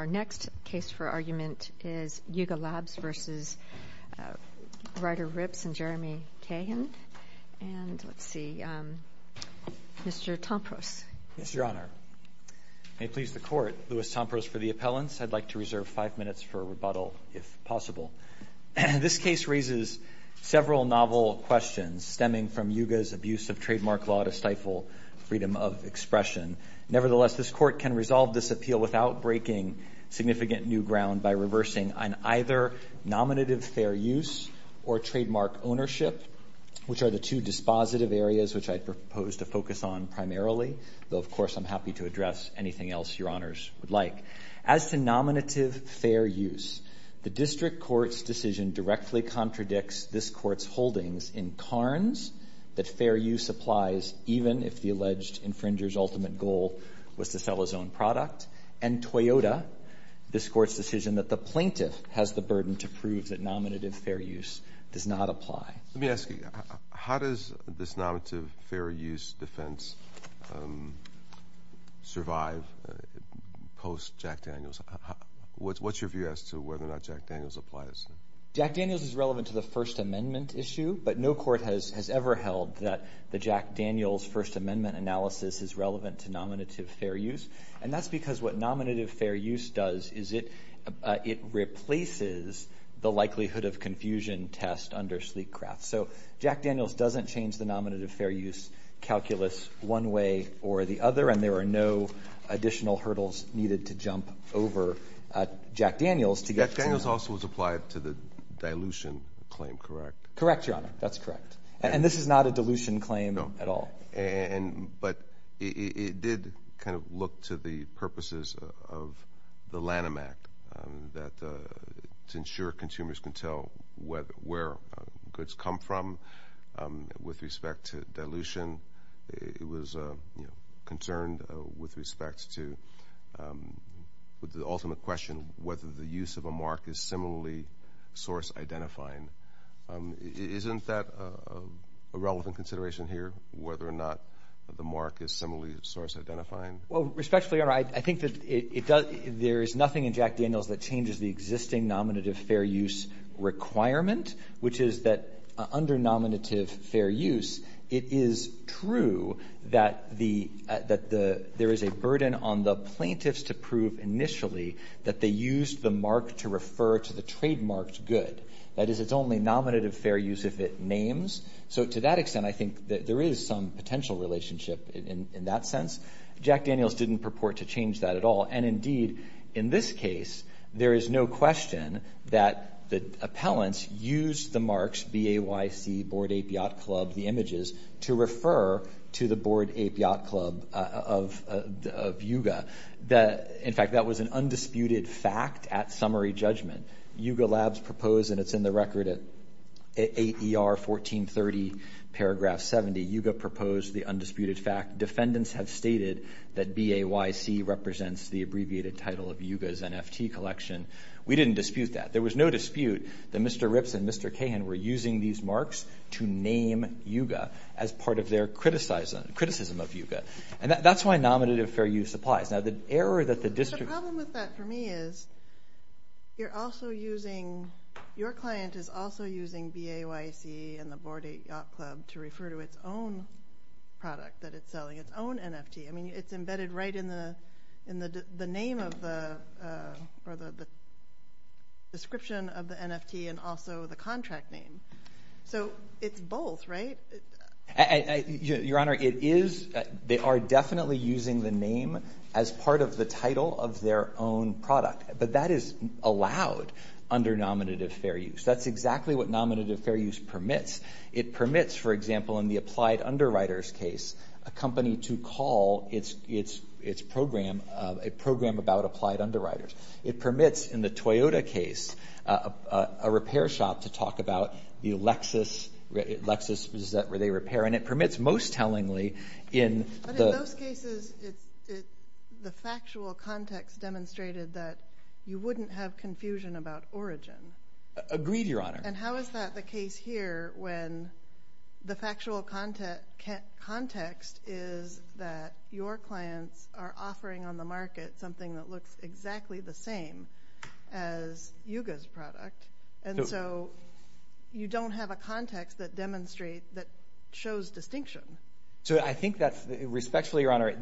Our next case for argument is Yuga Labs v. Ryder Ripps v. Jeremy Cahan. And let's see, Mr. Tompros. Yes, Your Honor. May it please the Court, Louis Tompros for the appellants. I'd like to reserve five minutes for rebuttal, if possible. This case raises several novel questions stemming from Yuga's abuse of trademark law to stifle freedom of expression. Nevertheless, this Court can resolve this appeal without breaking significant new ground by reversing an either nominative fair use or trademark ownership, which are the two dispositive areas which I propose to focus on primarily, though of course I'm happy to address anything else Your Honors would like. As to nominative fair use, the District Court's decision directly contradicts this Court's holdings in Carnes that fair use applies even if the alleged infringer's ultimate goal was to sell his own product, and Toyota, this Court's decision that the plaintiff has the burden to prove that nominative fair use does not apply. Let me ask you, how does this nominative fair use defense survive post-Jack Daniels? What's your view as to whether or not Jack Daniels applies? Jack Daniels is relevant to the First Amendment issue, but no court has ever held that the Jack Daniels First Amendment analysis is relevant to nominative fair use, and that's because what nominative fair use does is it replaces the likelihood of confusion test under sleek craft. So Jack Daniels doesn't change the nominative fair use calculus one way or the other, and there are no additional hurdles needed to jump over Jack Daniels to get to that. Jack Daniels also was applied to the dilution claim, correct? Correct, Your Honor. That's correct. And this is not a dilution claim at all? No. But it did kind of look to the purposes of the Lanham Act to ensure consumers can tell where goods come from with respect to dilution. It was concerned with respect to the ultimate question, whether the use of a mark is similarly source-identifying. Isn't that a relevant consideration here, whether or not the mark is similarly source-identifying? Well, respectfully, Your Honor, I think that there is nothing in Jack Daniels that changes the existing nominative fair use requirement, which is that under nominative fair use, it is true that there is a burden on the plaintiffs to prove initially that they used the mark to refer to the trademarked good. That is, it's only nominative fair use if it names. So to that extent, I think that there is some potential relationship in that sense. Jack Daniels didn't purport to change that at all. And, indeed, in this case, there is no question that the appellants used the marks, B-A-Y-C, Board Ape Yacht Club, the images, to refer to the Board Ape Yacht Club of Yuga. In fact, that was an undisputed fact at summary judgment. Yuga Labs proposed, and it's in the record at AER 1430, paragraph 70, Yuga proposed the undisputed fact. Defendants have stated that B-A-Y-C represents the abbreviated title of Yuga's NFT collection. We didn't dispute that. There was no dispute that Mr. Ripps and Mr. Cahan were using these marks to name Yuga as part of their criticism of Yuga. And that's why nominative fair use applies. Now, the error that the district... The problem with that for me is you're also using... Your client is also using B-A-Y-C and the Board Ape Yacht Club to refer to its own product that it's selling, its own NFT. I mean, it's embedded right in the name of the... or the description of the NFT and also the contract name. So it's both, right? Your Honor, it is... They are definitely using the name as part of the title of their own product. But that is allowed under nominative fair use. That's exactly what nominative fair use permits. It permits, for example, in the applied underwriters case, a company to call its program a program about applied underwriters. It permits, in the Toyota case, a repair shop to talk about the Lexus. Lexus, is that where they repair? And it permits, most tellingly, in the... But in those cases, the factual context demonstrated that you wouldn't have confusion about origin. Agreed, Your Honor. And how is that the case here when the factual context is that your clients are offering on the market something that looks exactly the same as Yuga's product? And so you don't have a context that demonstrates, that shows distinction. So I think that, respectfully, Your Honor,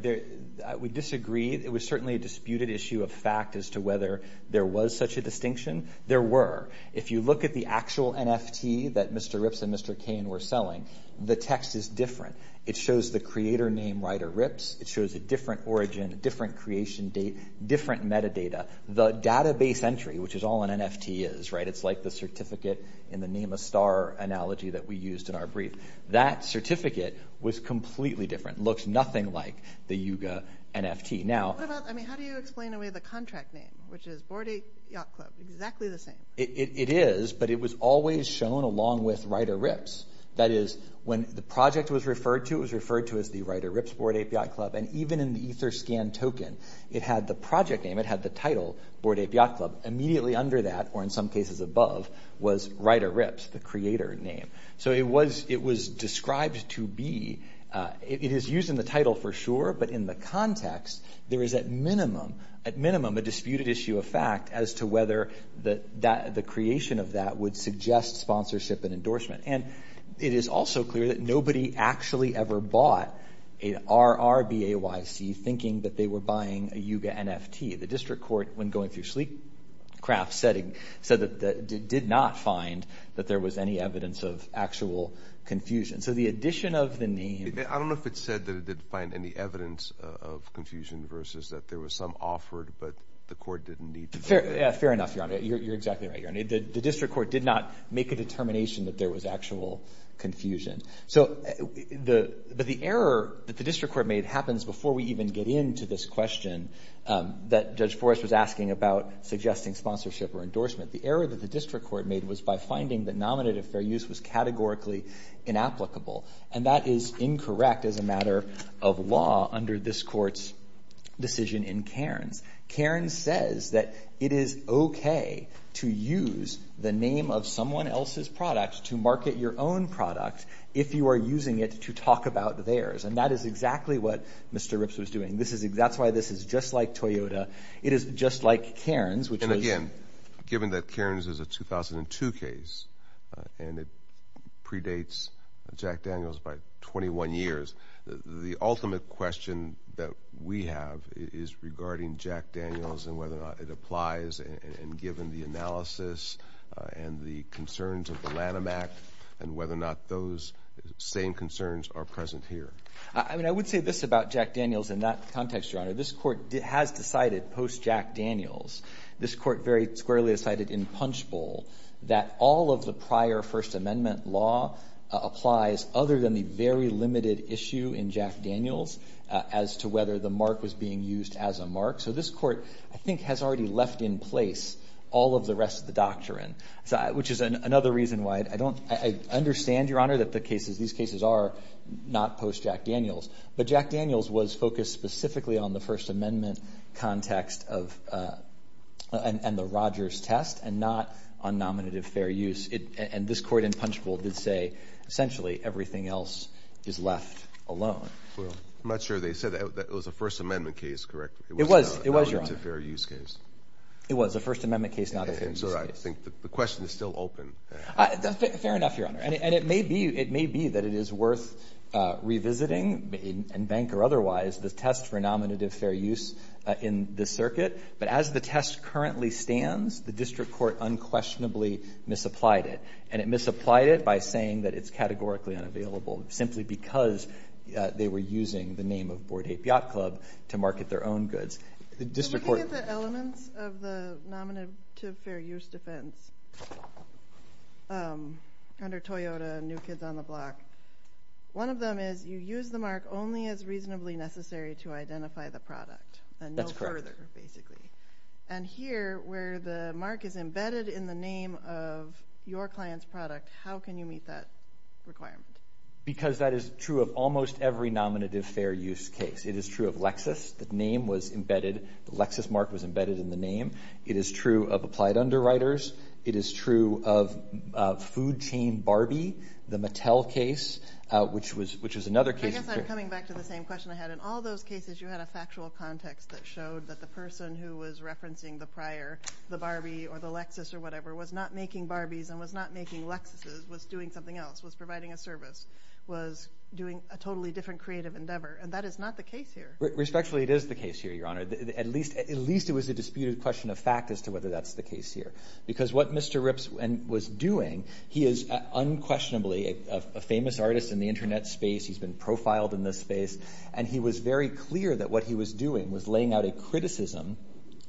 we disagree. It was certainly a disputed issue of fact as to whether there was such a distinction. There were. If you look at the actual NFT that Mr. Ripps and Mr. Cain were selling, the text is different. It shows the creator name, Ryder Ripps. It shows a different origin, a different creation date, different metadata. The database entry, which is all an NFT is, right? It's like the certificate in the name of star analogy that we used in our brief. That certificate was completely different. It looks nothing like the Yuga NFT. How do you explain away the contract name, which is BoardApe Yacht Club, exactly the same? It is, but it was always shown along with Ryder Ripps. That is, when the project was referred to, it was referred to as the Ryder Ripps BoardApe Yacht Club. And even in the EtherScan token, it had the project name, it had the title, BoardApe Yacht Club. Immediately under that, or in some cases above, was Ryder Ripps, the creator name. So it was described to be, it is used in the title for sure, but in the context, there is at minimum a disputed issue of fact as to whether the creation of that would suggest sponsorship and endorsement. And it is also clear that nobody actually ever bought a RRBAYC thinking that they were buying a Yuga NFT. The district court, when going through SleekCraft's setting, said that it did not find that there was any evidence of actual confusion. So the addition of the name – I don't know if it said that it didn't find any evidence of confusion versus that there was some offered, but the court didn't need to – Fair enough, Your Honor. You're exactly right, Your Honor. The district court did not make a determination that there was actual confusion. But the error that the district court made happens before we even get into this question that Judge Forrest was asking about suggesting sponsorship or endorsement. The error that the district court made was by finding that nominative fair use was categorically inapplicable, and that is incorrect as a matter of law under this court's decision in Cairns. Cairns says that it is okay to use the name of someone else's product to market your own product if you are using it to talk about theirs. And that is exactly what Mr. Rips was doing. That's why this is just like Toyota. It is just like Cairns, which is – And again, given that Cairns is a 2002 case and it predates Jack Daniels by 21 years, the ultimate question that we have is regarding Jack Daniels and whether or not it applies and given the analysis and the concerns of the Lanham Act and whether or not those same concerns are present here. I mean, I would say this about Jack Daniels in that context, Your Honor. This court has decided post-Jack Daniels, this court very squarely decided in Punchbowl, that all of the prior First Amendment law applies other than the very limited issue in Jack Daniels as to whether the mark was being used as a mark. So this court, I think, has already left in place all of the rest of the doctrine, which is another reason why I don't – I understand, Your Honor, that the cases – these cases are not post-Jack Daniels, but Jack Daniels was focused specifically on the First Amendment context of – and the Rogers test and not on nominative fair use. And this court in Punchbowl did say essentially everything else is left alone. I'm not sure they said that. It was a First Amendment case, correct? It was, Your Honor. It wasn't a fair use case. It was a First Amendment case, not a fair use case. And so I think the question is still open. Fair enough, Your Honor. And it may be that it is worth revisiting, in bank or otherwise, the test for nominative fair use in this circuit. But as the test currently stands, the district court unquestionably misapplied it. And it misapplied it by saying that it's categorically unavailable, simply because they were using the name of Board A Piat Club to market their own goods. The district court – Looking at the elements of the nominative fair use defense under Toyota and New Kids on the Block, one of them is you use the mark only as reasonably necessary to identify the product. That's correct. And no further, basically. And here, where the mark is embedded in the name of your client's product, how can you meet that requirement? Because that is true of almost every nominative fair use case. It is true of Lexus. The name was embedded. The Lexus mark was embedded in the name. It is true of Applied Underwriters. It is true of Food Chain Barbie, the Mattel case, which was another case. I guess I'm coming back to the same question I had. In all those cases, you had a factual context that showed that the person who was referencing the prior, the Barbie or the Lexus or whatever, was not making Barbies and was not making Lexuses, was doing something else, was providing a service, was doing a totally different creative endeavor. And that is not the case here. Respectfully, it is the case here, Your Honor. At least it was a disputed question of fact as to whether that's the case here. Because what Mr. Ripps was doing, he is unquestionably a famous artist in the Internet space. He's been profiled in this space. And he was very clear that what he was doing was laying out a criticism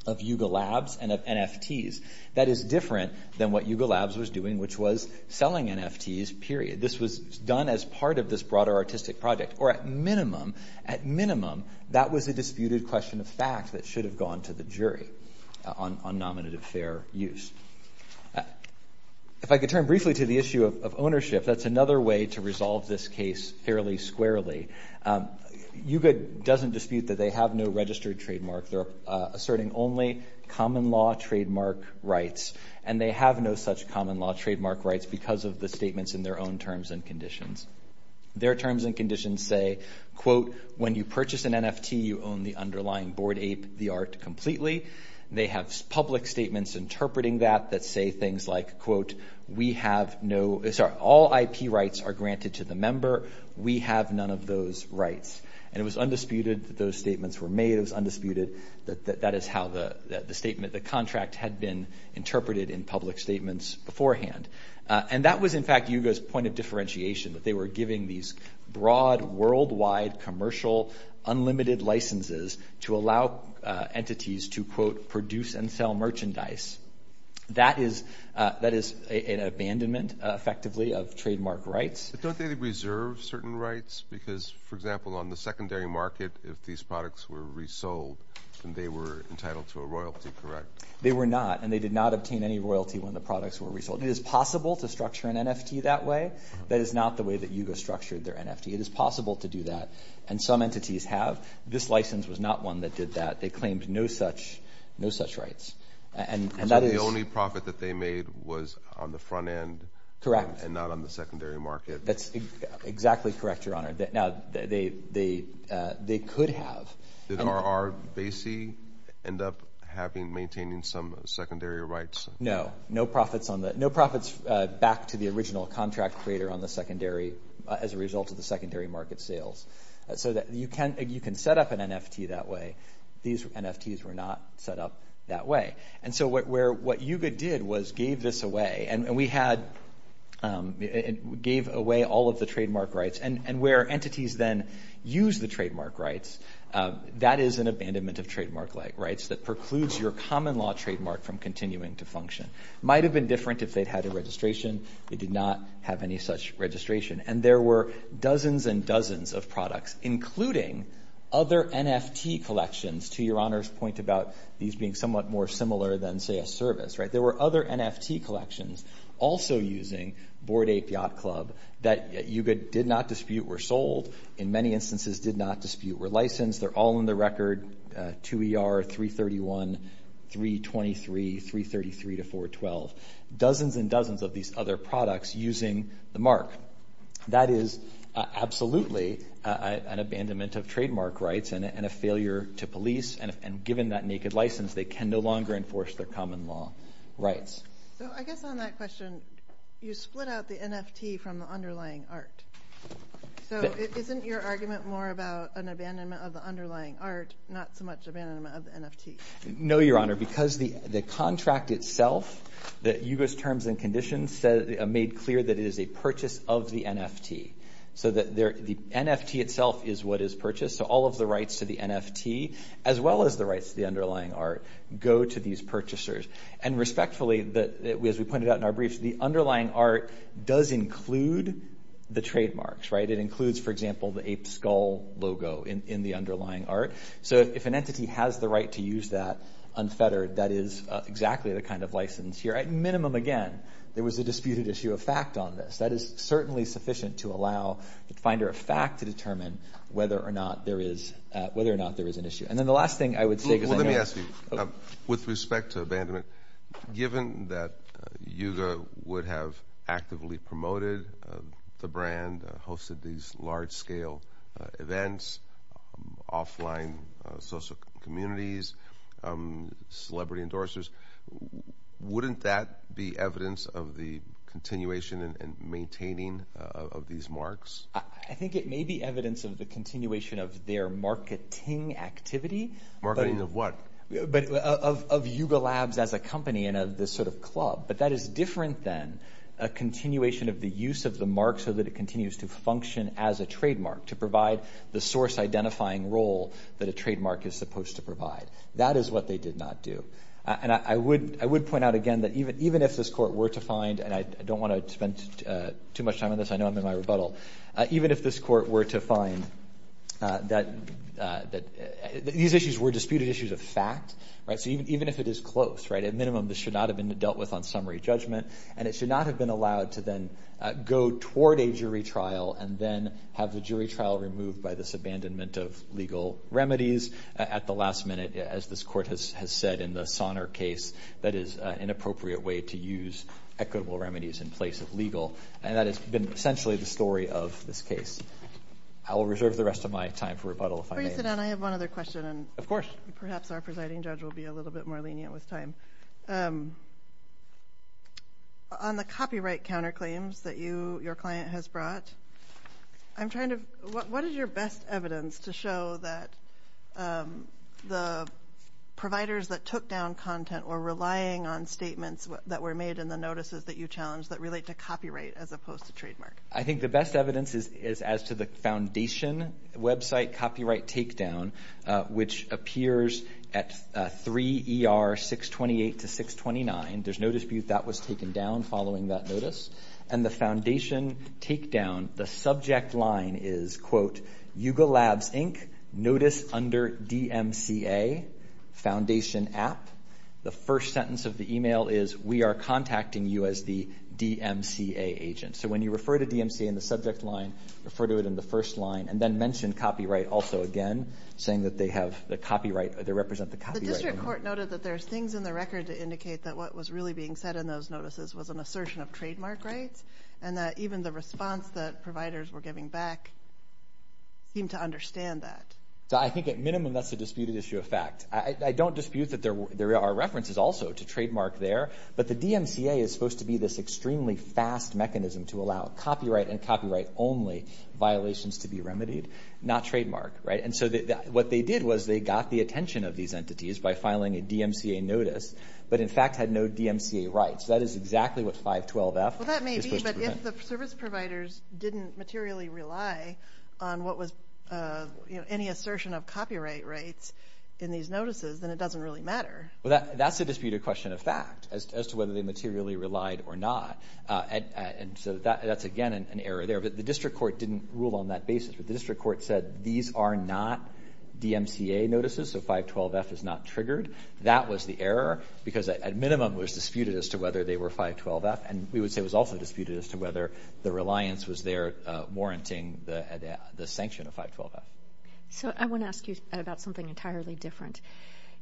of Yuga Labs and of NFTs. That is different than what Yuga Labs was doing, which was selling NFTs, period. This was done as part of this broader artistic project. Or at minimum, at minimum, that was a disputed question of fact that should have gone to the jury on nominative fair use. If I could turn briefly to the issue of ownership, that's another way to resolve this case fairly squarely. Yuga doesn't dispute that they have no registered trademark. They're asserting only common law trademark rights. And they have no such common law trademark rights because of the statements in their own terms and conditions. Their terms and conditions say, quote, when you purchase an NFT, you own the underlying board A, the art, completely. They have public statements interpreting that that say things like, quote, we have no, sorry, all IP rights are granted to the member. We have none of those rights. And it was undisputed that those statements were made. It was undisputed that that is how the statement, the contract had been interpreted in public statements beforehand. And that was, in fact, Yuga's point of differentiation, that they were giving these broad, worldwide, commercial, unlimited licenses to allow entities to, quote, produce and sell merchandise. That is an abandonment, effectively, of trademark rights. But don't they reserve certain rights? Because, for example, on the secondary market, if these products were resold and they were entitled to a royalty, correct? They were not. And they did not obtain any royalty when the products were resold. It is possible to structure an NFT that way. That is not the way that Yuga structured their NFT. It is possible to do that. And some entities have. This license was not one that did that. They claimed no such rights. And that is. So the only profit that they made was on the front end. Correct. And not on the secondary market. That's exactly correct, Your Honor. Now, they could have. Did RR Basie end up having, maintaining some secondary rights? No. No profits back to the original contract creator on the secondary, as a result of the secondary market sales. So you can set up an NFT that way. These NFTs were not set up that way. And so what Yuga did was gave this away. And we had, gave away all of the trademark rights. And where entities then use the trademark rights, that is an abandonment of trademark rights that precludes your common law trademark from continuing to function. Might have been different if they'd had a registration. They did not have any such registration. And there were dozens and dozens of products, including other NFT collections, to Your Honor's point about these being somewhat more similar than, say, a service. There were other NFT collections also using Bored Ape Yacht Club that Yuga did not dispute were sold, in many instances did not dispute were licensed. They're all in the record, 2ER, 331, 323, 333 to 412. Dozens and dozens of these other products using the mark. That is absolutely an abandonment of trademark rights and a failure to police. And given that naked license, they can no longer enforce their common law rights. So I guess on that question, you split out the NFT from the underlying art. So isn't your argument more about an abandonment of the underlying art, not so much abandonment of the NFT? No, Your Honor, because the contract itself, Yuga's terms and conditions made clear that it is a purchase of the NFT. So the NFT itself is what is purchased. So all of the rights to the NFT, as well as the rights to the underlying art, go to these purchasers. And respectfully, as we pointed out in our brief, the underlying art does include the trademarks, right? It includes, for example, the ape skull logo in the underlying art. So if an entity has the right to use that unfettered, that is exactly the kind of license here. At minimum, again, there was a disputed issue of fact on this. That is certainly sufficient to allow the finder of fact to determine whether or not there is an issue. And then the last thing I would say is – Well, let me ask you. With respect to abandonment, given that Yuga would have actively promoted the brand, hosted these large-scale events, offline social communities, celebrity endorsers, wouldn't that be evidence of the continuation and maintaining of these marks? I think it may be evidence of the continuation of their marketing activity. Marketing of what? Of Yuga Labs as a company and of this sort of club. But that is different than a continuation of the use of the mark so that it continues to function as a trademark, to provide the source-identifying role that a trademark is supposed to provide. That is what they did not do. And I would point out again that even if this court were to find – and I don't want to spend too much time on this. I know I'm in my rebuttal. Even if this court were to find that these issues were disputed issues of fact, right? Even if it is close, right? At minimum, this should not have been dealt with on summary judgment. And it should not have been allowed to then go toward a jury trial and then have the jury trial removed by this abandonment of legal remedies at the last minute. As this court has said in the Sonner case, that is an inappropriate way to use equitable remedies in place of legal. And that has been essentially the story of this case. I will reserve the rest of my time for rebuttal if I may. Before you sit down, I have one other question. Of course. Perhaps our presiding judge will be a little bit more lenient with time. On the copyright counterclaims that your client has brought, what is your best evidence to show that the providers that took down content were relying on statements that were made in the notices that you challenged that relate to copyright as opposed to trademark? I think the best evidence is as to the foundation website copyright takedown, which appears at 3 ER 628 to 629. There's no dispute that was taken down following that notice. And the foundation takedown, the subject line is, quote, Yuga Labs, Inc., notice under DMCA, foundation app. The first sentence of the email is, we are contacting you as the DMCA agent. So when you refer to DMCA in the subject line, refer to it in the first line. And then mention copyright also again, saying that they represent the copyright. The district court noted that there's things in the record to indicate that what was really being said in those notices was an assertion of trademark rights and that even the response that providers were giving back seemed to understand that. I think at minimum that's a disputed issue of fact. I don't dispute that there are references also to trademark there, but the DMCA is supposed to be this extremely fast mechanism to allow copyright and copyright only violations to be remedied, not trademark. And so what they did was they got the attention of these entities by filing a DMCA notice, but in fact had no DMCA rights. That is exactly what 512F is supposed to prevent. Well, that may be, but if the service providers didn't materially rely on what was any assertion of copyright rights in these notices, then it doesn't really matter. Well, that's a disputed question of fact as to whether they materially relied or not. And so that's, again, an error there. But the district court didn't rule on that basis. The district court said these are not DMCA notices, so 512F is not triggered. That was the error because at minimum it was disputed as to whether they were 512F, and we would say it was also disputed as to whether the reliance was there warranting the sanction of 512F. So I want to ask you about something entirely different.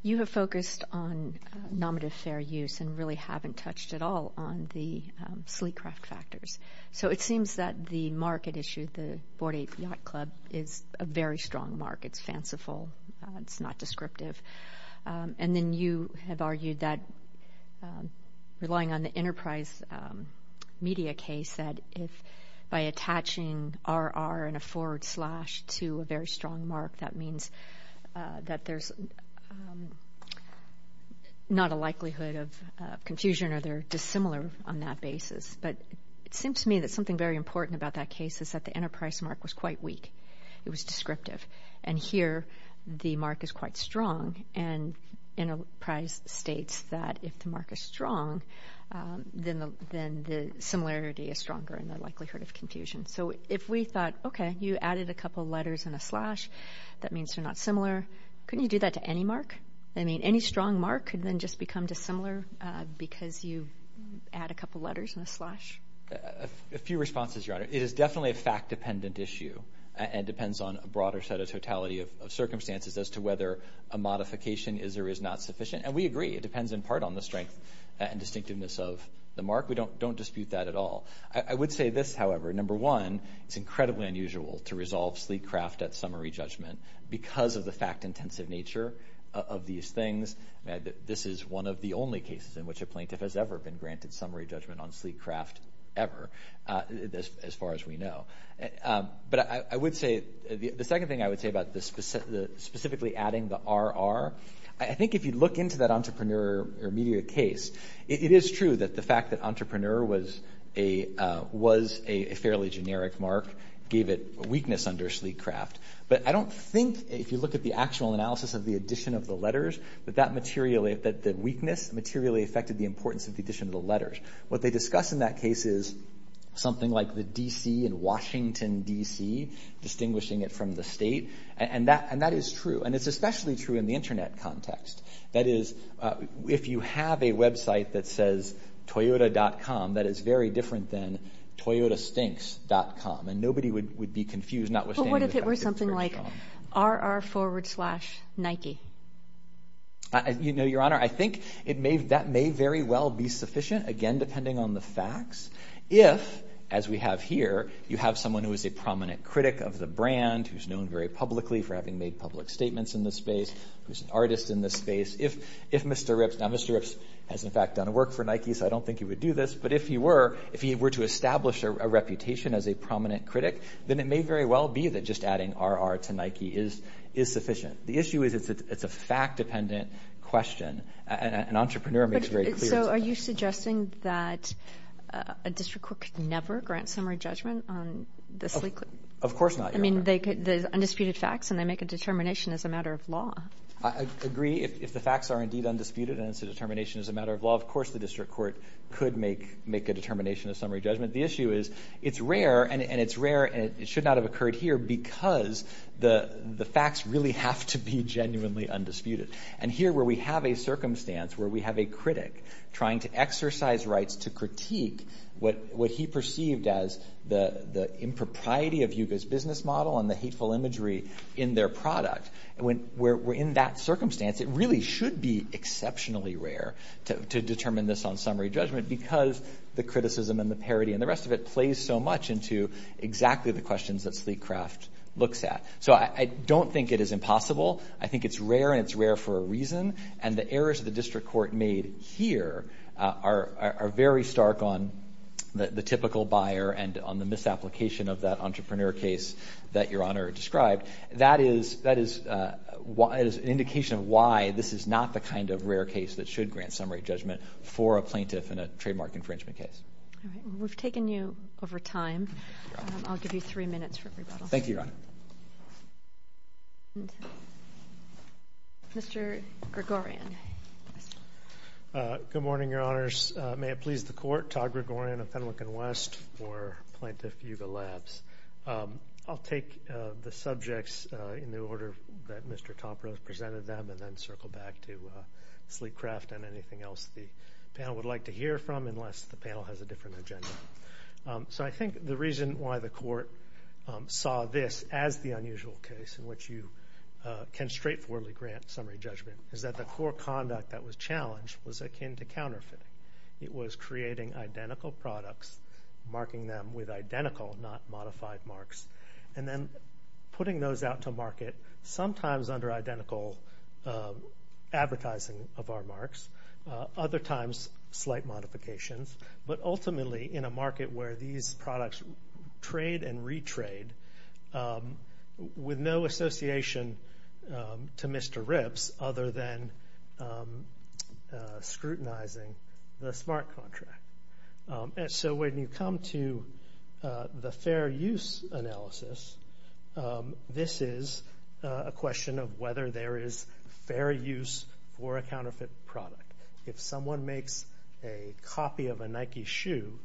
You have focused on nominative fair use and really haven't touched at all on the sleek craft factors. So it seems that the market issue, the 48 Yacht Club, is a very strong mark. It's fanciful. It's not descriptive. And then you have argued that relying on the enterprise media case, that if by attaching RR and a forward slash to a very strong mark, that means that there's not a likelihood of confusion or they're dissimilar on that basis. But it seems to me that something very important about that case is that the enterprise mark was quite weak. It was descriptive. And here the mark is quite strong, and enterprise states that if the mark is strong, then the similarity is stronger and the likelihood of confusion. So if we thought, okay, you added a couple letters and a slash, that means they're not similar. Couldn't you do that to any mark? I mean, any strong mark could then just become dissimilar because you add a couple letters and a slash? A few responses, Your Honor. It is definitely a fact-dependent issue and depends on a broader set of totality of circumstances as to whether a modification is or is not sufficient. And we agree, it depends in part on the strength and distinctiveness of the mark. We don't dispute that at all. I would say this, however. Number one, it's incredibly unusual to resolve sleek craft at summary judgment because of the fact-intensive nature of these things. This is one of the only cases in which a plaintiff has ever been granted summary judgment on sleek craft ever, as far as we know. But I would say the second thing I would say about specifically adding the RR, I think if you look into that entrepreneur or media case, it is true that the fact that entrepreneur was a fairly generic mark gave it weakness under sleek craft. But I don't think, if you look at the actual analysis of the addition of the letters, that the weakness materially affected the importance of the addition of the letters. What they discuss in that case is something like the D.C. and Washington, D.C., distinguishing it from the state, and that is true. And it's especially true in the Internet context. That is, if you have a website that says toyota.com, that is very different than toyotastinks.com, and nobody would be confused notwithstanding that. But what if it were something like RR forward slash Nike? You know, Your Honor, I think that may very well be sufficient, again, depending on the facts, if, as we have here, you have someone who is a prominent critic of the brand, who's known very publicly for having made public statements in this space, who's an artist in this space. If Mr. Ripps, now Mr. Ripps has, in fact, done work for Nike, so I don't think he would do this, but if he were to establish a reputation as a prominent critic, then it may very well be that just adding RR to Nike is sufficient. The issue is it's a fact-dependent question, and entrepreneur makes very clear. So are you suggesting that a district court could never grant summary judgment on the sleek? Of course not, Your Honor. I mean, there's undisputed facts, and they make a determination as a matter of law. I agree. If the facts are indeed undisputed and it's a determination as a matter of law, of course the district court could make a determination of summary judgment. The issue is it's rare, and it's rare, and it should not have occurred here because the facts really have to be genuinely undisputed. And here, where we have a circumstance where we have a critic trying to exercise rights to critique what he perceived as the impropriety of Yuga's business model and the hateful imagery in their product, where in that circumstance it really should be exceptionally rare to determine this on summary judgment because the criticism and the parody and the rest of it plays so much into exactly the questions that Sleek Craft looks at. So I don't think it is impossible. I think it's rare, and it's rare for a reason, and the errors the district court made here are very stark on the typical buyer and on the misapplication of that entrepreneur case that Your Honor described. That is an indication of why this is not the kind of rare case that should grant summary judgment for a plaintiff in a trademark infringement case. All right. Well, we've taken you over time. I'll give you three minutes for rebuttal. Thank you, Your Honor. Mr. Gregorian. Good morning, Your Honors. May it please the Court, Todd Gregorian of Fenwick and West for Plaintiff Yuga Labs. I'll take the subjects in the order that Mr. Topper has presented them and then circle back to Sleek Craft and anything else the panel would like to hear from unless the panel has a different agenda. So I think the reason why the Court saw this as the unusual case in which you can straightforwardly grant summary judgment is that the core conduct that was challenged was akin to counterfeiting. It was creating identical products, marking them with identical, not modified marks, and then putting those out to market, sometimes under identical advertising of our marks, other times slight modifications, but ultimately in a market where these products trade and retrade with no association to Mr. Ribbs other than scrutinizing the smart contract. So when you come to the fair use analysis, this is a question of whether there is fair use for a counterfeit product. If someone makes a copy of a Nike shoe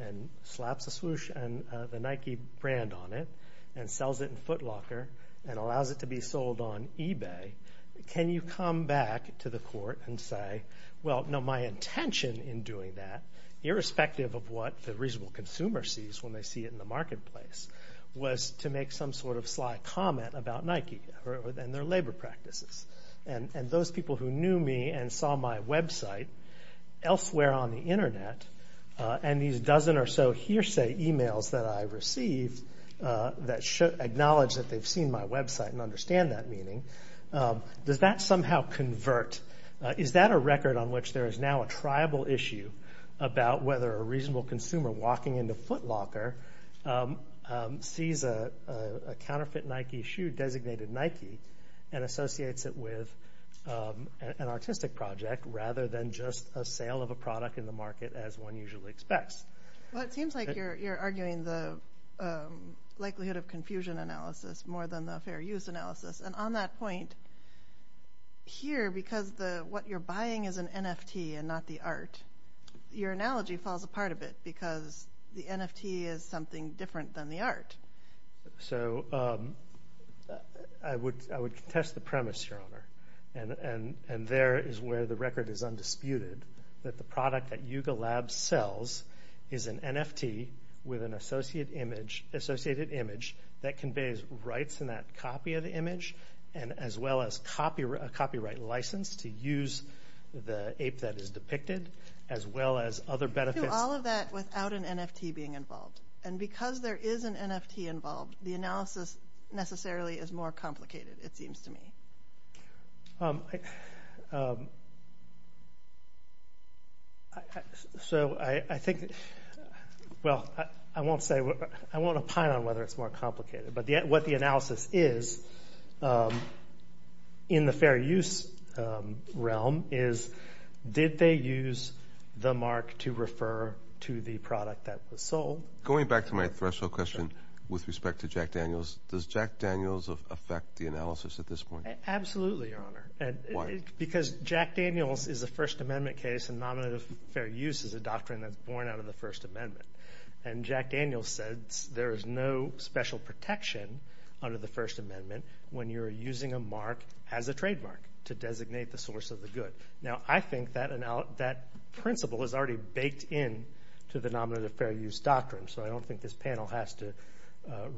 and slaps the Nike brand on it and sells it in Foot Locker and allows it to be sold on eBay, can you come back to the Court and say, well, no, my intention in doing that, irrespective of what the reasonable consumer sees when they see it in the marketplace, was to make some sort of sly comment about Nike and their labor practices? And those people who knew me and saw my website elsewhere on the Internet and these dozen or so hearsay emails that I received that acknowledged that they've seen my website and understand that meaning, does that somehow convert? Is that a record on which there is now a tribal issue about whether a reasonable consumer walking into Foot Locker sees a counterfeit Nike shoe designated Nike and associates it with an artistic project rather than just a sale of a product in the market as one usually expects? Well, it seems like you're arguing the likelihood of confusion analysis more than the fair use analysis. And on that point, here, because what you're buying is an NFT and not the art, your analogy falls apart a bit because the NFT is something different than the art. So I would contest the premise, Your Honor, and there is where the record is undisputed, that the product that Yuga Labs sells is an NFT with an associated image that conveys rights in that copy of the image and as well as a copyright license to use the ape that is depicted as well as other benefits. You can do all of that without an NFT being involved. And because there is an NFT involved, the analysis necessarily is more complicated, it seems to me. So I think, well, I won't say, I won't opine on whether it's more complicated, but what the analysis is, in the fair use realm, is did they use the mark to refer to the product that was sold? Going back to my threshold question with respect to Jack Daniels, does Jack Daniels affect the analysis at this point? Absolutely, Your Honor. Why? Because Jack Daniels is a First Amendment case and nominative fair use is a doctrine that's born out of the First Amendment. And Jack Daniels said there is no special protection under the First Amendment when you're using a mark as a trademark to designate the source of the good. Now, I think that principle is already baked in to the nominative fair use doctrine, so I don't think this panel has to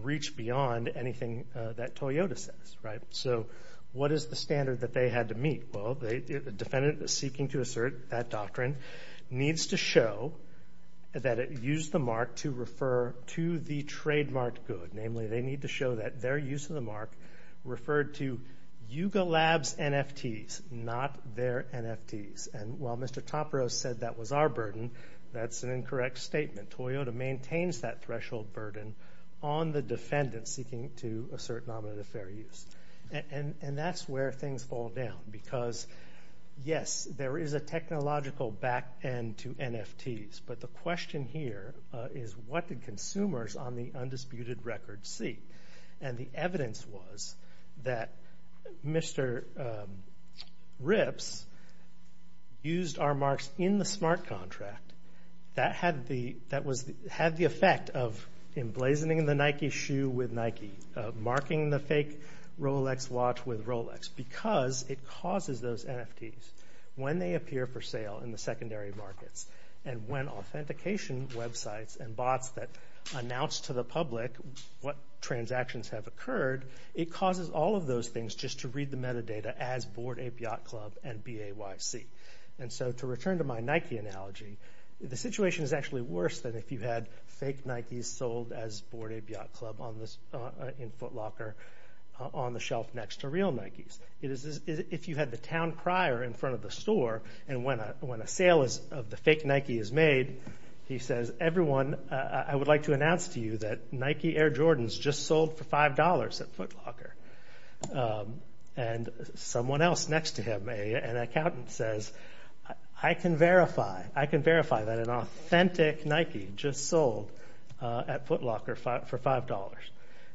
reach beyond anything that Toyota says. So what is the standard that they had to meet? Well, the defendant is seeking to assert that doctrine needs to show that it used the mark to refer to the trademarked good. Namely, they need to show that their use of the mark referred to Yuga Labs' NFTs, not their NFTs. And while Mr. Topper said that was our burden, that's an incorrect statement. Toyota maintains that threshold burden on the defendant seeking to assert nominative fair use. And that's where things fall down because, yes, there is a technological back end to NFTs, but the question here is what did consumers on the undisputed record see? And the evidence was that Mr. Ripps used our marks in the smart contract. That had the effect of emblazoning the Nike shoe with Nike, marking the fake Rolex watch with Rolex because it causes those NFTs. When they appear for sale in the secondary markets and when authentication websites and bots that announce to the public what transactions have occurred, it causes all of those things just to read the metadata as Bord et Biot Club and B-A-Y-C. And so to return to my Nike analogy, the situation is actually worse than if you had fake Nikes sold as Bord et Biot Club in Foot Locker on the shelf next to real Nikes. If you had the town crier in front of the store and when a sale of the fake Nike is made, he says, everyone, I would like to announce to you that Nike Air Jordans just sold for $5 at Foot Locker. And someone else next to him, an accountant, says, I can verify. I can verify that an authentic Nike just sold at Foot Locker for $5.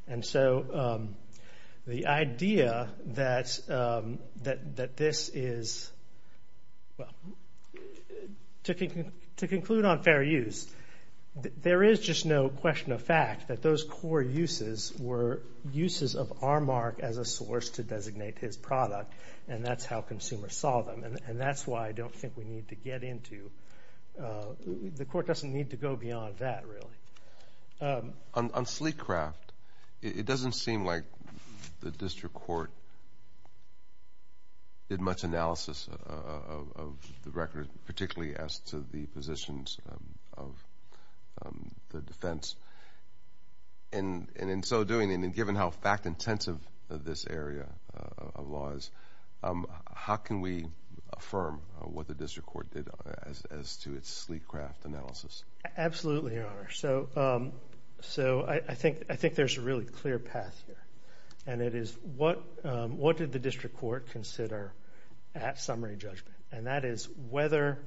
And so the idea that this is, well, to conclude on fair use, there is just no question of fact that those core uses were uses of Armark as a source to designate his product, and that's how consumers saw them. And that's why I don't think we need to get into, the court doesn't need to go beyond that, really. On Sleecraft, it doesn't seem like the district court did much analysis of the record, particularly as to the positions of the defense. And in so doing, and given how fact-intensive this area of law is, how can we affirm what the district court did as to its Sleecraft analysis? Absolutely, Your Honor. So I think there's a really clear path here, and it is, what did the district court consider at summary judgment? And that is whether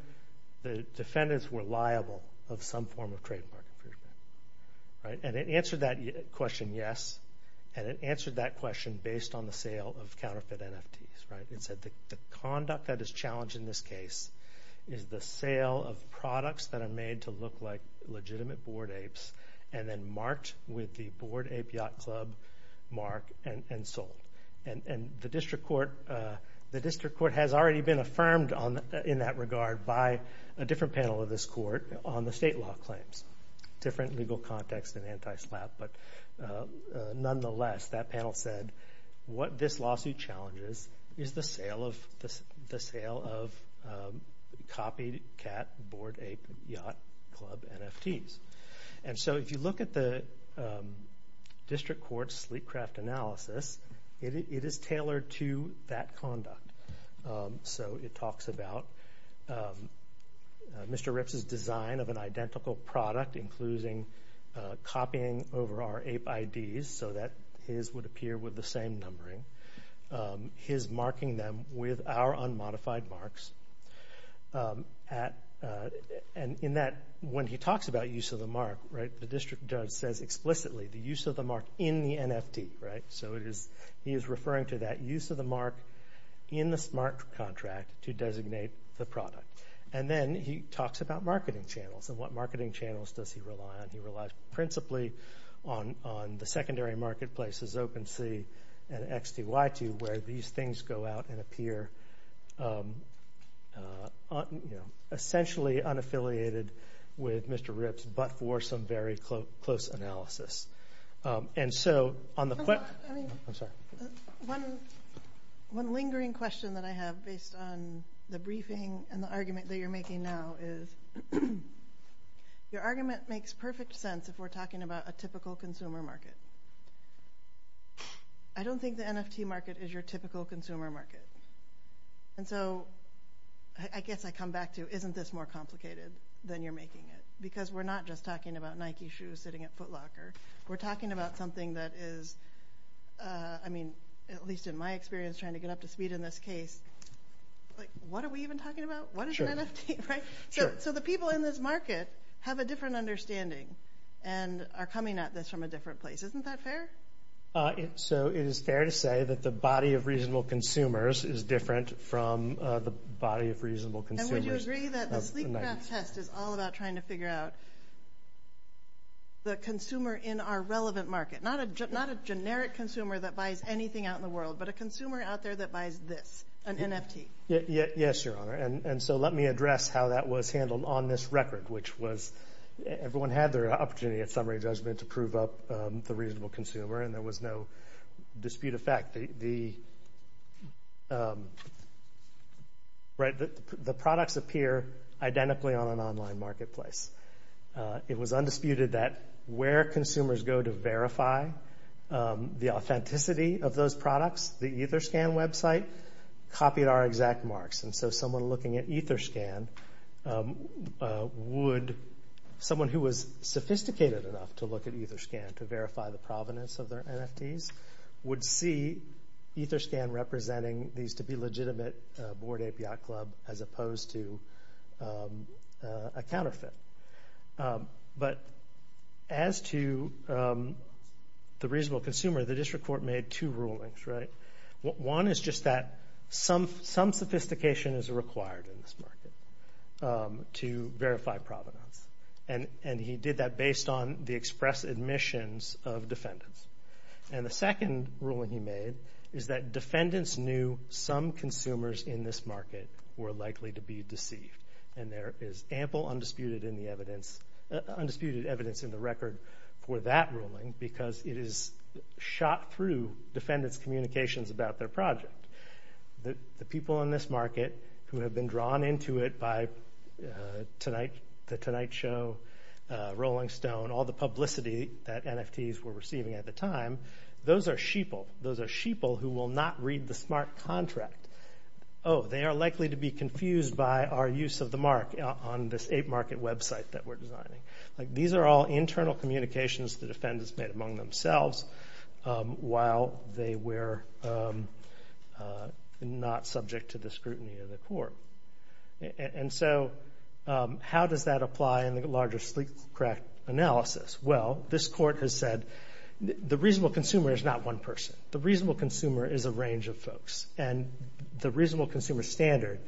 the defendants were liable of some form of trademark infringement. And it answered that question, yes. And it answered that question based on the sale of counterfeit NFTs. It said the conduct that is challenged in this case is the sale of products that are made to look like legitimate board apes, and then marked with the board ape yacht club mark and sold. And the district court has already been affirmed in that regard by a different panel of this court on the state law claims, different legal context and anti-SLAPP. But nonetheless, that panel said what this lawsuit challenges is the sale of copied cat, board ape, yacht club NFTs. And so if you look at the district court's Sleecraft analysis, it is tailored to that conduct. So it talks about Mr. Ripps's design of an identical product, including copying over our ape IDs so that his would appear with the same numbering, his marking them with our unmodified marks. And in that, when he talks about use of the mark, the district judge says explicitly the use of the mark in the NFT. So he is referring to that use of the mark in the smart contract to designate the product. And then he talks about marketing channels and what marketing channels does he rely on. He relies principally on the secondary marketplaces, OpenSea and XTY2, where these things go out and appear essentially unaffiliated with Mr. Ripps, but for some very close analysis. And so on the – I'm sorry. One lingering question that I have based on the briefing and the argument that you're making now is your argument makes perfect sense if we're talking about a typical consumer market. I don't think the NFT market is your typical consumer market. And so I guess I come back to, isn't this more complicated than you're making it? Because we're not just talking about Nike shoes sitting at Foot Locker. We're talking about something that is, I mean, at least in my experience, trying to get up to speed in this case. Like, what are we even talking about? What is an NFT, right? So the people in this market have a different understanding and are coming at this from a different place. Isn't that fair? So it is fair to say that the body of reasonable consumers is different from the body of reasonable consumers. And would you agree that the SleepGraft test is all about trying to figure out the consumer in our relevant market, not a generic consumer that buys anything out in the world, but a consumer out there that buys this, an NFT? Yes, Your Honor. And so let me address how that was handled on this record, which was everyone had their opportunity at summary judgment to prove up the reasonable consumer, and there was no dispute of fact. The products appear identically on an online marketplace. It was undisputed that where consumers go to verify the authenticity of those products, the EtherScan website copied our exact marks. And so someone looking at EtherScan would, someone who was sophisticated enough to look at EtherScan to verify the provenance of their NFTs, would see EtherScan representing these to be legitimate board API club as opposed to a counterfeit. But as to the reasonable consumer, the district court made two rulings, right? One is just that some sophistication is required in this market to verify provenance, and he did that based on the express admissions of defendants. And the second ruling he made is that defendants knew some consumers in this market were likely to be deceived, and there is ample undisputed evidence in the record for that ruling because it is shot through defendants' communications about their project. The people in this market who have been drawn into it by the Tonight Show, Rolling Stone, all the publicity that NFTs were receiving at the time, those are sheeple. Those are sheeple who will not read the smart contract. Oh, they are likely to be confused by our use of the mark on this ape market website that we're designing. These are all internal communications the defendants made among themselves while they were not subject to the scrutiny of the court. And so how does that apply in the larger sleep crack analysis? Well, this court has said the reasonable consumer is not one person. The reasonable consumer is a range of folks. And the reasonable consumer standard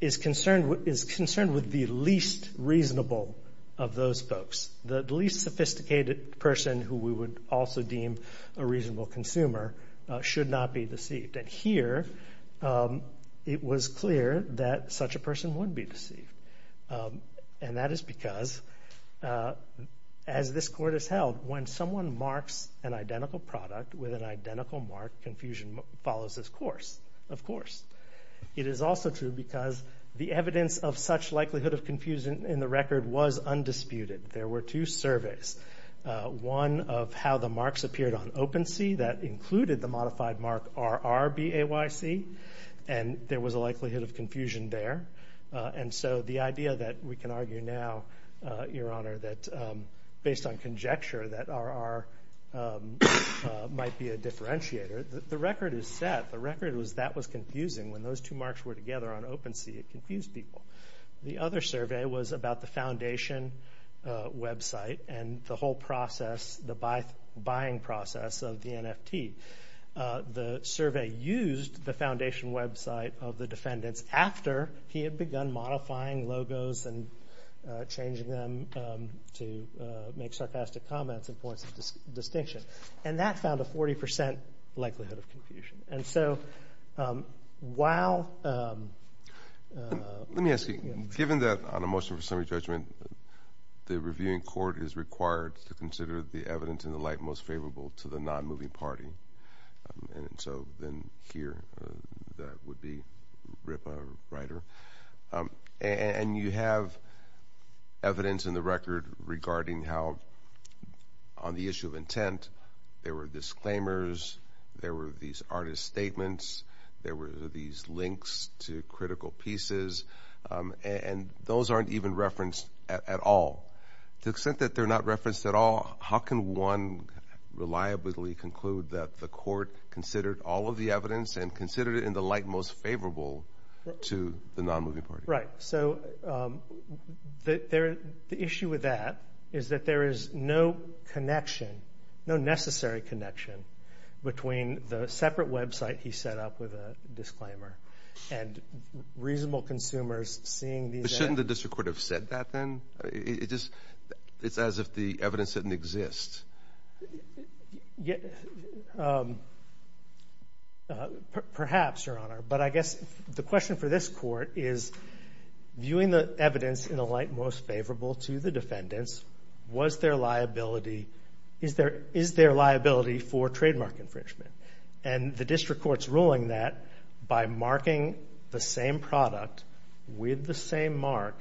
is concerned with the least reasonable of those folks. The least sophisticated person who we would also deem a reasonable consumer should not be deceived. And here it was clear that such a person would be deceived, and that is because, as this court has held, when someone marks an identical product with an identical mark, confusion follows this course, of course. It is also true because the evidence of such likelihood of confusion in the record was undisputed. There were two surveys, one of how the marks appeared on OpenSea that included the modified mark RRBAYC, and there was a likelihood of confusion there. And so the idea that we can argue now, Your Honor, that based on conjecture that RR might be a differentiator, the record is set. The record was that was confusing. When those two marks were together on OpenSea, it confused people. The other survey was about the foundation website and the whole process, the buying process of the NFT. The survey used the foundation website of the defendants after he had begun modifying logos and changing them to make sarcastic comments and points of distinction, and that found a 40 percent likelihood of confusion. And so while— Let me ask you, given that on a motion for summary judgment, the reviewing court is required to consider the evidence in the light most favorable to the non-moving party, and so then here that would be Ripa Ryder, and you have evidence in the record regarding how on the issue of intent there were disclaimers, there were these artist statements, there were these links to critical pieces, and those aren't even referenced at all. To the extent that they're not referenced at all, how can one reliably conclude that the court considered all of the evidence and considered it in the light most favorable to the non-moving party? Right. So the issue with that is that there is no connection, no necessary connection between the separate website he set up with a disclaimer and reasonable consumers seeing these— But shouldn't the district court have said that then? It's as if the evidence didn't exist. Perhaps, Your Honor, but I guess the question for this court is, viewing the evidence in the light most favorable to the defendants, is there liability for trademark infringement? And the district court's ruling that by marking the same product with the same mark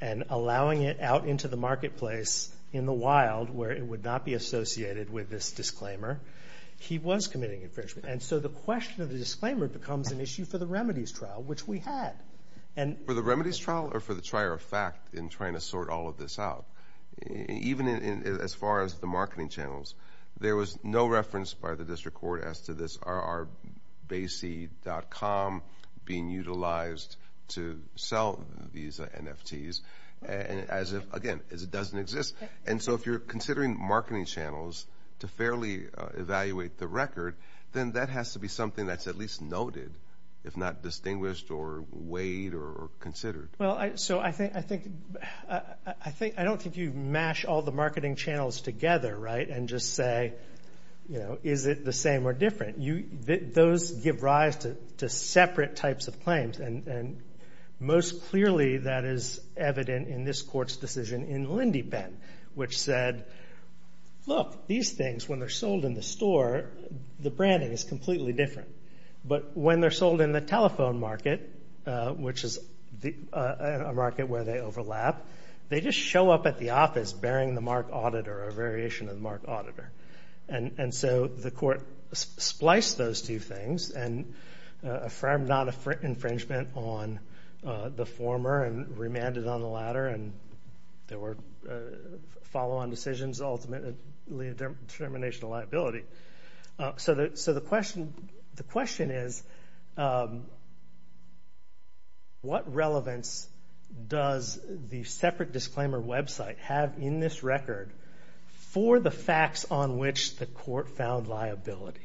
and allowing it out into the marketplace in the wild where it would not be associated with this disclaimer, he was committing infringement. And so the question of the disclaimer becomes an issue for the remedies trial, which we had. For the remedies trial or for the trier of fact in trying to sort all of this out? Even as far as the marketing channels, there was no reference by the district court as to this. Are basee.com being utilized to sell these NFTs? Again, as if it doesn't exist. And so if you're considering marketing channels to fairly evaluate the record, then that has to be something that's at least noted, if not distinguished or weighed or considered. Well, so I don't think you mash all the marketing channels together, right, and just say, you know, is it the same or different? Those give rise to separate types of claims, and most clearly that is evident in this court's decision in Lindybend, which said, look, these things, when they're sold in the store, the branding is completely different. But when they're sold in the telephone market, which is a market where they overlap, they just show up at the office bearing the mark auditor, a variation of the mark auditor. And so the court spliced those two things and affirmed non-infringement on the former and remanded on the latter, and there were follow-on decisions ultimately a determination of liability. So the question is, what relevance does the separate disclaimer website have in this record for the facts on which the court found liability?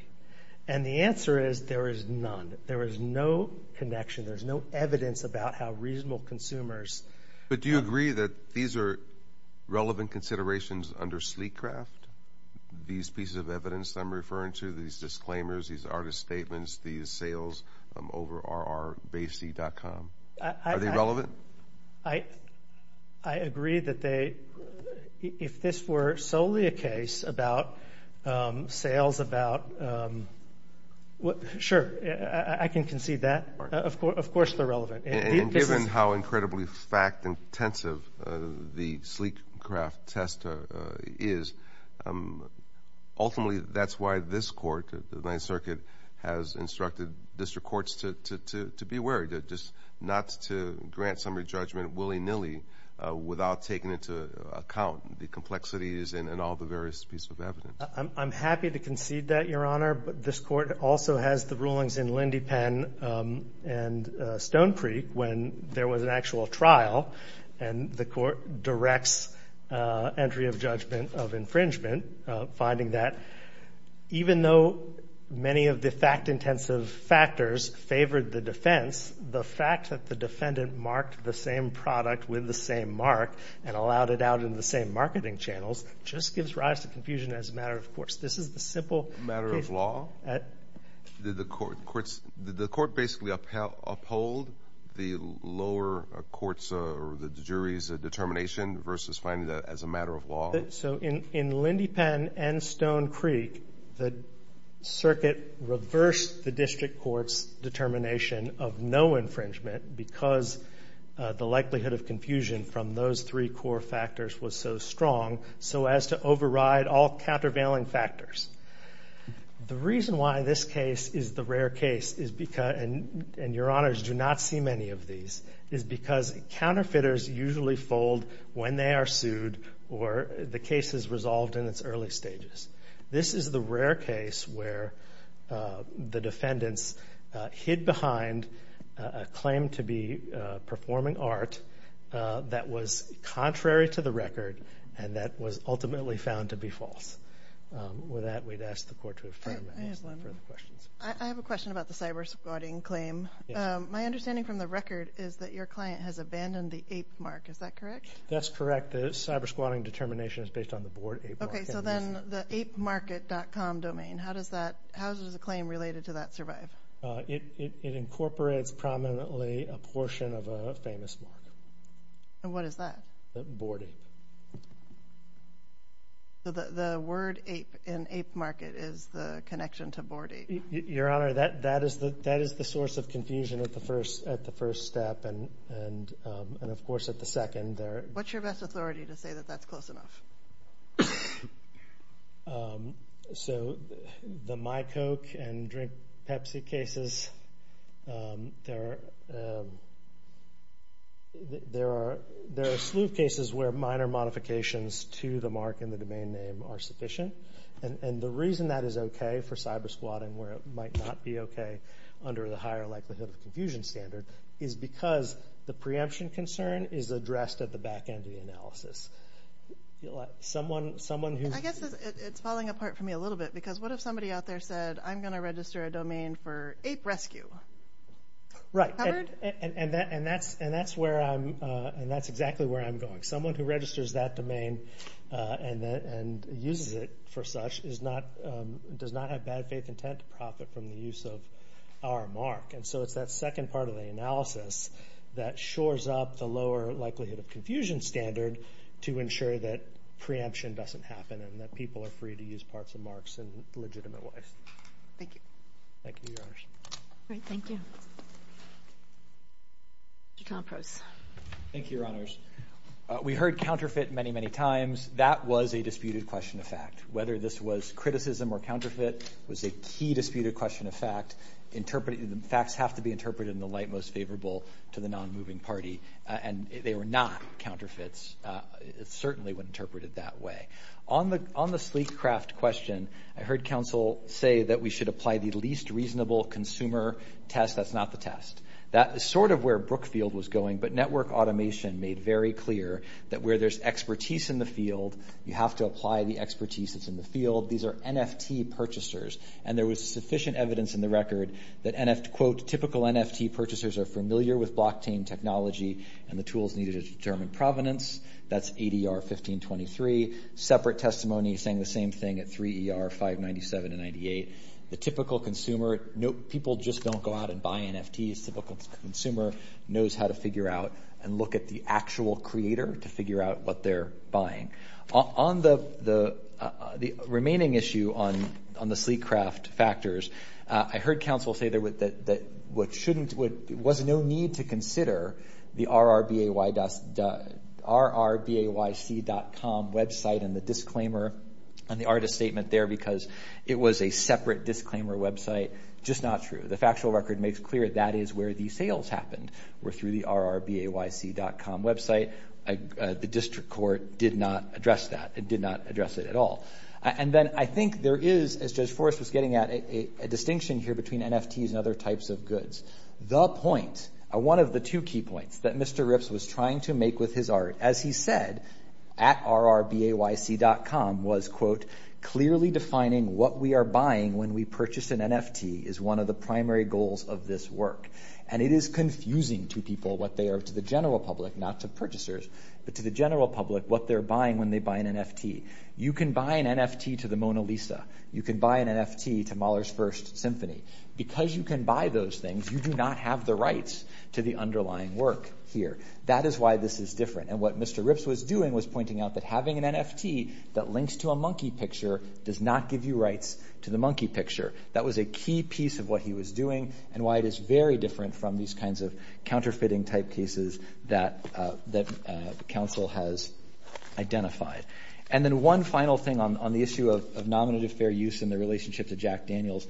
And the answer is there is none. There is no connection. There is no evidence about how reasonable consumers. But do you agree that these are relevant considerations under Sleecraft, these pieces of evidence I'm referring to, these disclaimers, these artist statements, these sales over rrbasey.com, are they relevant? I agree that they, if this were solely a case about sales about, sure, I can concede that. Of course they're relevant. And given how incredibly fact-intensive the Sleecraft test is, ultimately that's why this court, the Ninth Circuit, has instructed district courts to be wary, not to grant summary judgment willy-nilly without taking into account the complexities and all the various pieces of evidence. I'm happy to concede that, Your Honor. But this court also has the rulings in Lindypen and Stonecreek when there was an actual trial, and the court directs entry of judgment of infringement, finding that even though many of the fact-intensive factors favored the defense, the fact that the defendant marked the same product with the same mark and allowed it out in the same marketing channels just gives rise to confusion as a matter of course. This is the simple case. Matter of law? Did the court basically uphold the lower court's or the jury's determination versus finding that as a matter of law? So in Lindypen and Stonecreek, the circuit reversed the district court's determination of no infringement because the likelihood of confusion from those three core factors was so strong. So as to override all countervailing factors. The reason why this case is the rare case, and Your Honors, do not see many of these, is because counterfeiters usually fold when they are sued or the case is resolved in its early stages. This is the rare case where the defendants hid behind a claim to be performing art that was contrary to the record and that was ultimately found to be false. With that, we'd ask the court to affirm any further questions. I have a question about the cybersquatting claim. My understanding from the record is that your client has abandoned the ape mark. Is that correct? That's correct. The cybersquatting determination is based on the board ape mark. Okay. So then the apemarket.com domain, how does a claim related to that survive? It incorporates prominently a portion of a famous mark. And what is that? Board ape. The word ape in ape market is the connection to board ape. Your Honor, that is the source of confusion at the first step and, of course, at the second. What's your best authority to say that that's close enough? So the My Coke and Drink Pepsi cases, there are slew of cases where minor modifications to the mark and the domain name are sufficient. And the reason that is okay for cybersquatting where it might not be okay under the higher likelihood of confusion standard is because the preemption concern is addressed at the back end of the analysis. I guess it's falling apart for me a little bit because what if somebody out there said, I'm going to register a domain for ape rescue? And that's exactly where I'm going. Someone who registers that domain and uses it for such does not have bad faith intent to profit from the use of our mark. And so it's that second part of the analysis that shores up the lower likelihood of confusion standard to ensure that preemption doesn't happen and that people are free to use parts of marks in legitimate ways. Thank you. Thank you, Your Honors. All right. Thank you. Mr. Tomprose. Thank you, Your Honors. We heard counterfeit many, many times. That was a disputed question of fact. Whether this was criticism or counterfeit was a key disputed question of fact. Facts have to be interpreted in the light most favorable to the non-moving party. And they were not counterfeits. It certainly was interpreted that way. On the sleek craft question, I heard counsel say that we should apply the least reasonable consumer test. That's not the test. That is sort of where Brookfield was going. But network automation made very clear that where there's expertise in the field, you have to apply the expertise that's in the field. These are NFT purchasers. And there was sufficient evidence in the record that, quote, typical NFT purchasers are familiar with blockchain technology and the tools needed to determine provenance. That's ADR 1523. Separate testimony saying the same thing at 3ER 597 and 98. The typical consumer, people just don't go out and buy NFTs. Typical consumer knows how to figure out and look at the actual creator to figure out what they're buying. On the remaining issue on the sleek craft factors, I heard counsel say there was no need to consider the rrbayc.com website and the disclaimer and the artist statement there because it was a separate disclaimer website. Just not true. The factual record makes clear that is where the sales happened, were through the rrbayc.com website. The district court did not address that. It did not address it at all. And then I think there is, as Judge Forrest was getting at, a distinction here between NFTs and other types of goods. The point, one of the two key points that Mr. Ripps was trying to make with his art, as he said, at rrbayc.com was, quote, clearly defining what we are buying when we purchase an NFT is one of the primary goals of this work. And it is confusing to people what they are, to the general public, not to purchasers, but to the general public, what they're buying when they buy an NFT. You can buy an NFT to the Mona Lisa. You can buy an NFT to Mahler's First Symphony. Because you can buy those things, you do not have the rights to the underlying work here. That is why this is different. And what Mr. Ripps was doing was pointing out that having an NFT that links to a monkey picture does not give you rights to the monkey picture. That was a key piece of what he was doing and why it is very different from these kinds of counterfeiting type cases that the council has identified. And then one final thing on the issue of nominative fair use in the relationship to Jack Daniels.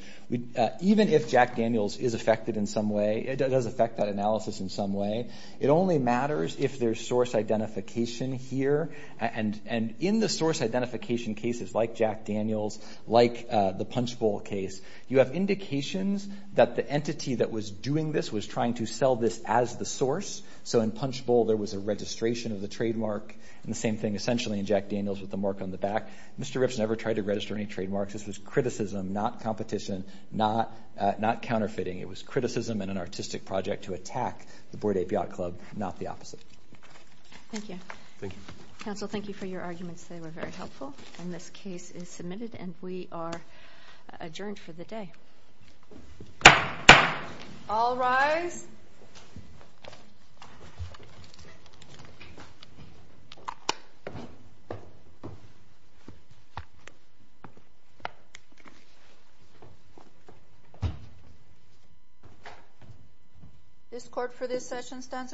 Even if Jack Daniels is affected in some way, it does affect that analysis in some way, it only matters if there's source identification here. And in the source identification cases like Jack Daniels, like the Punchbowl case, you have indications that the entity that was doing this was trying to sell this as the source. So in Punchbowl, there was a registration of the trademark. And the same thing essentially in Jack Daniels with the mark on the back. Mr. Ripps never tried to register any trademarks. This was criticism, not competition, not counterfeiting. It was criticism and an artistic project to attack the Bordet Biat Club, not the opposite. Thank you. Thank you. Council, thank you for your arguments. They were very helpful. And this case is submitted and we are adjourned for the day. All rise. Thank you. This court for this session stands adjourned.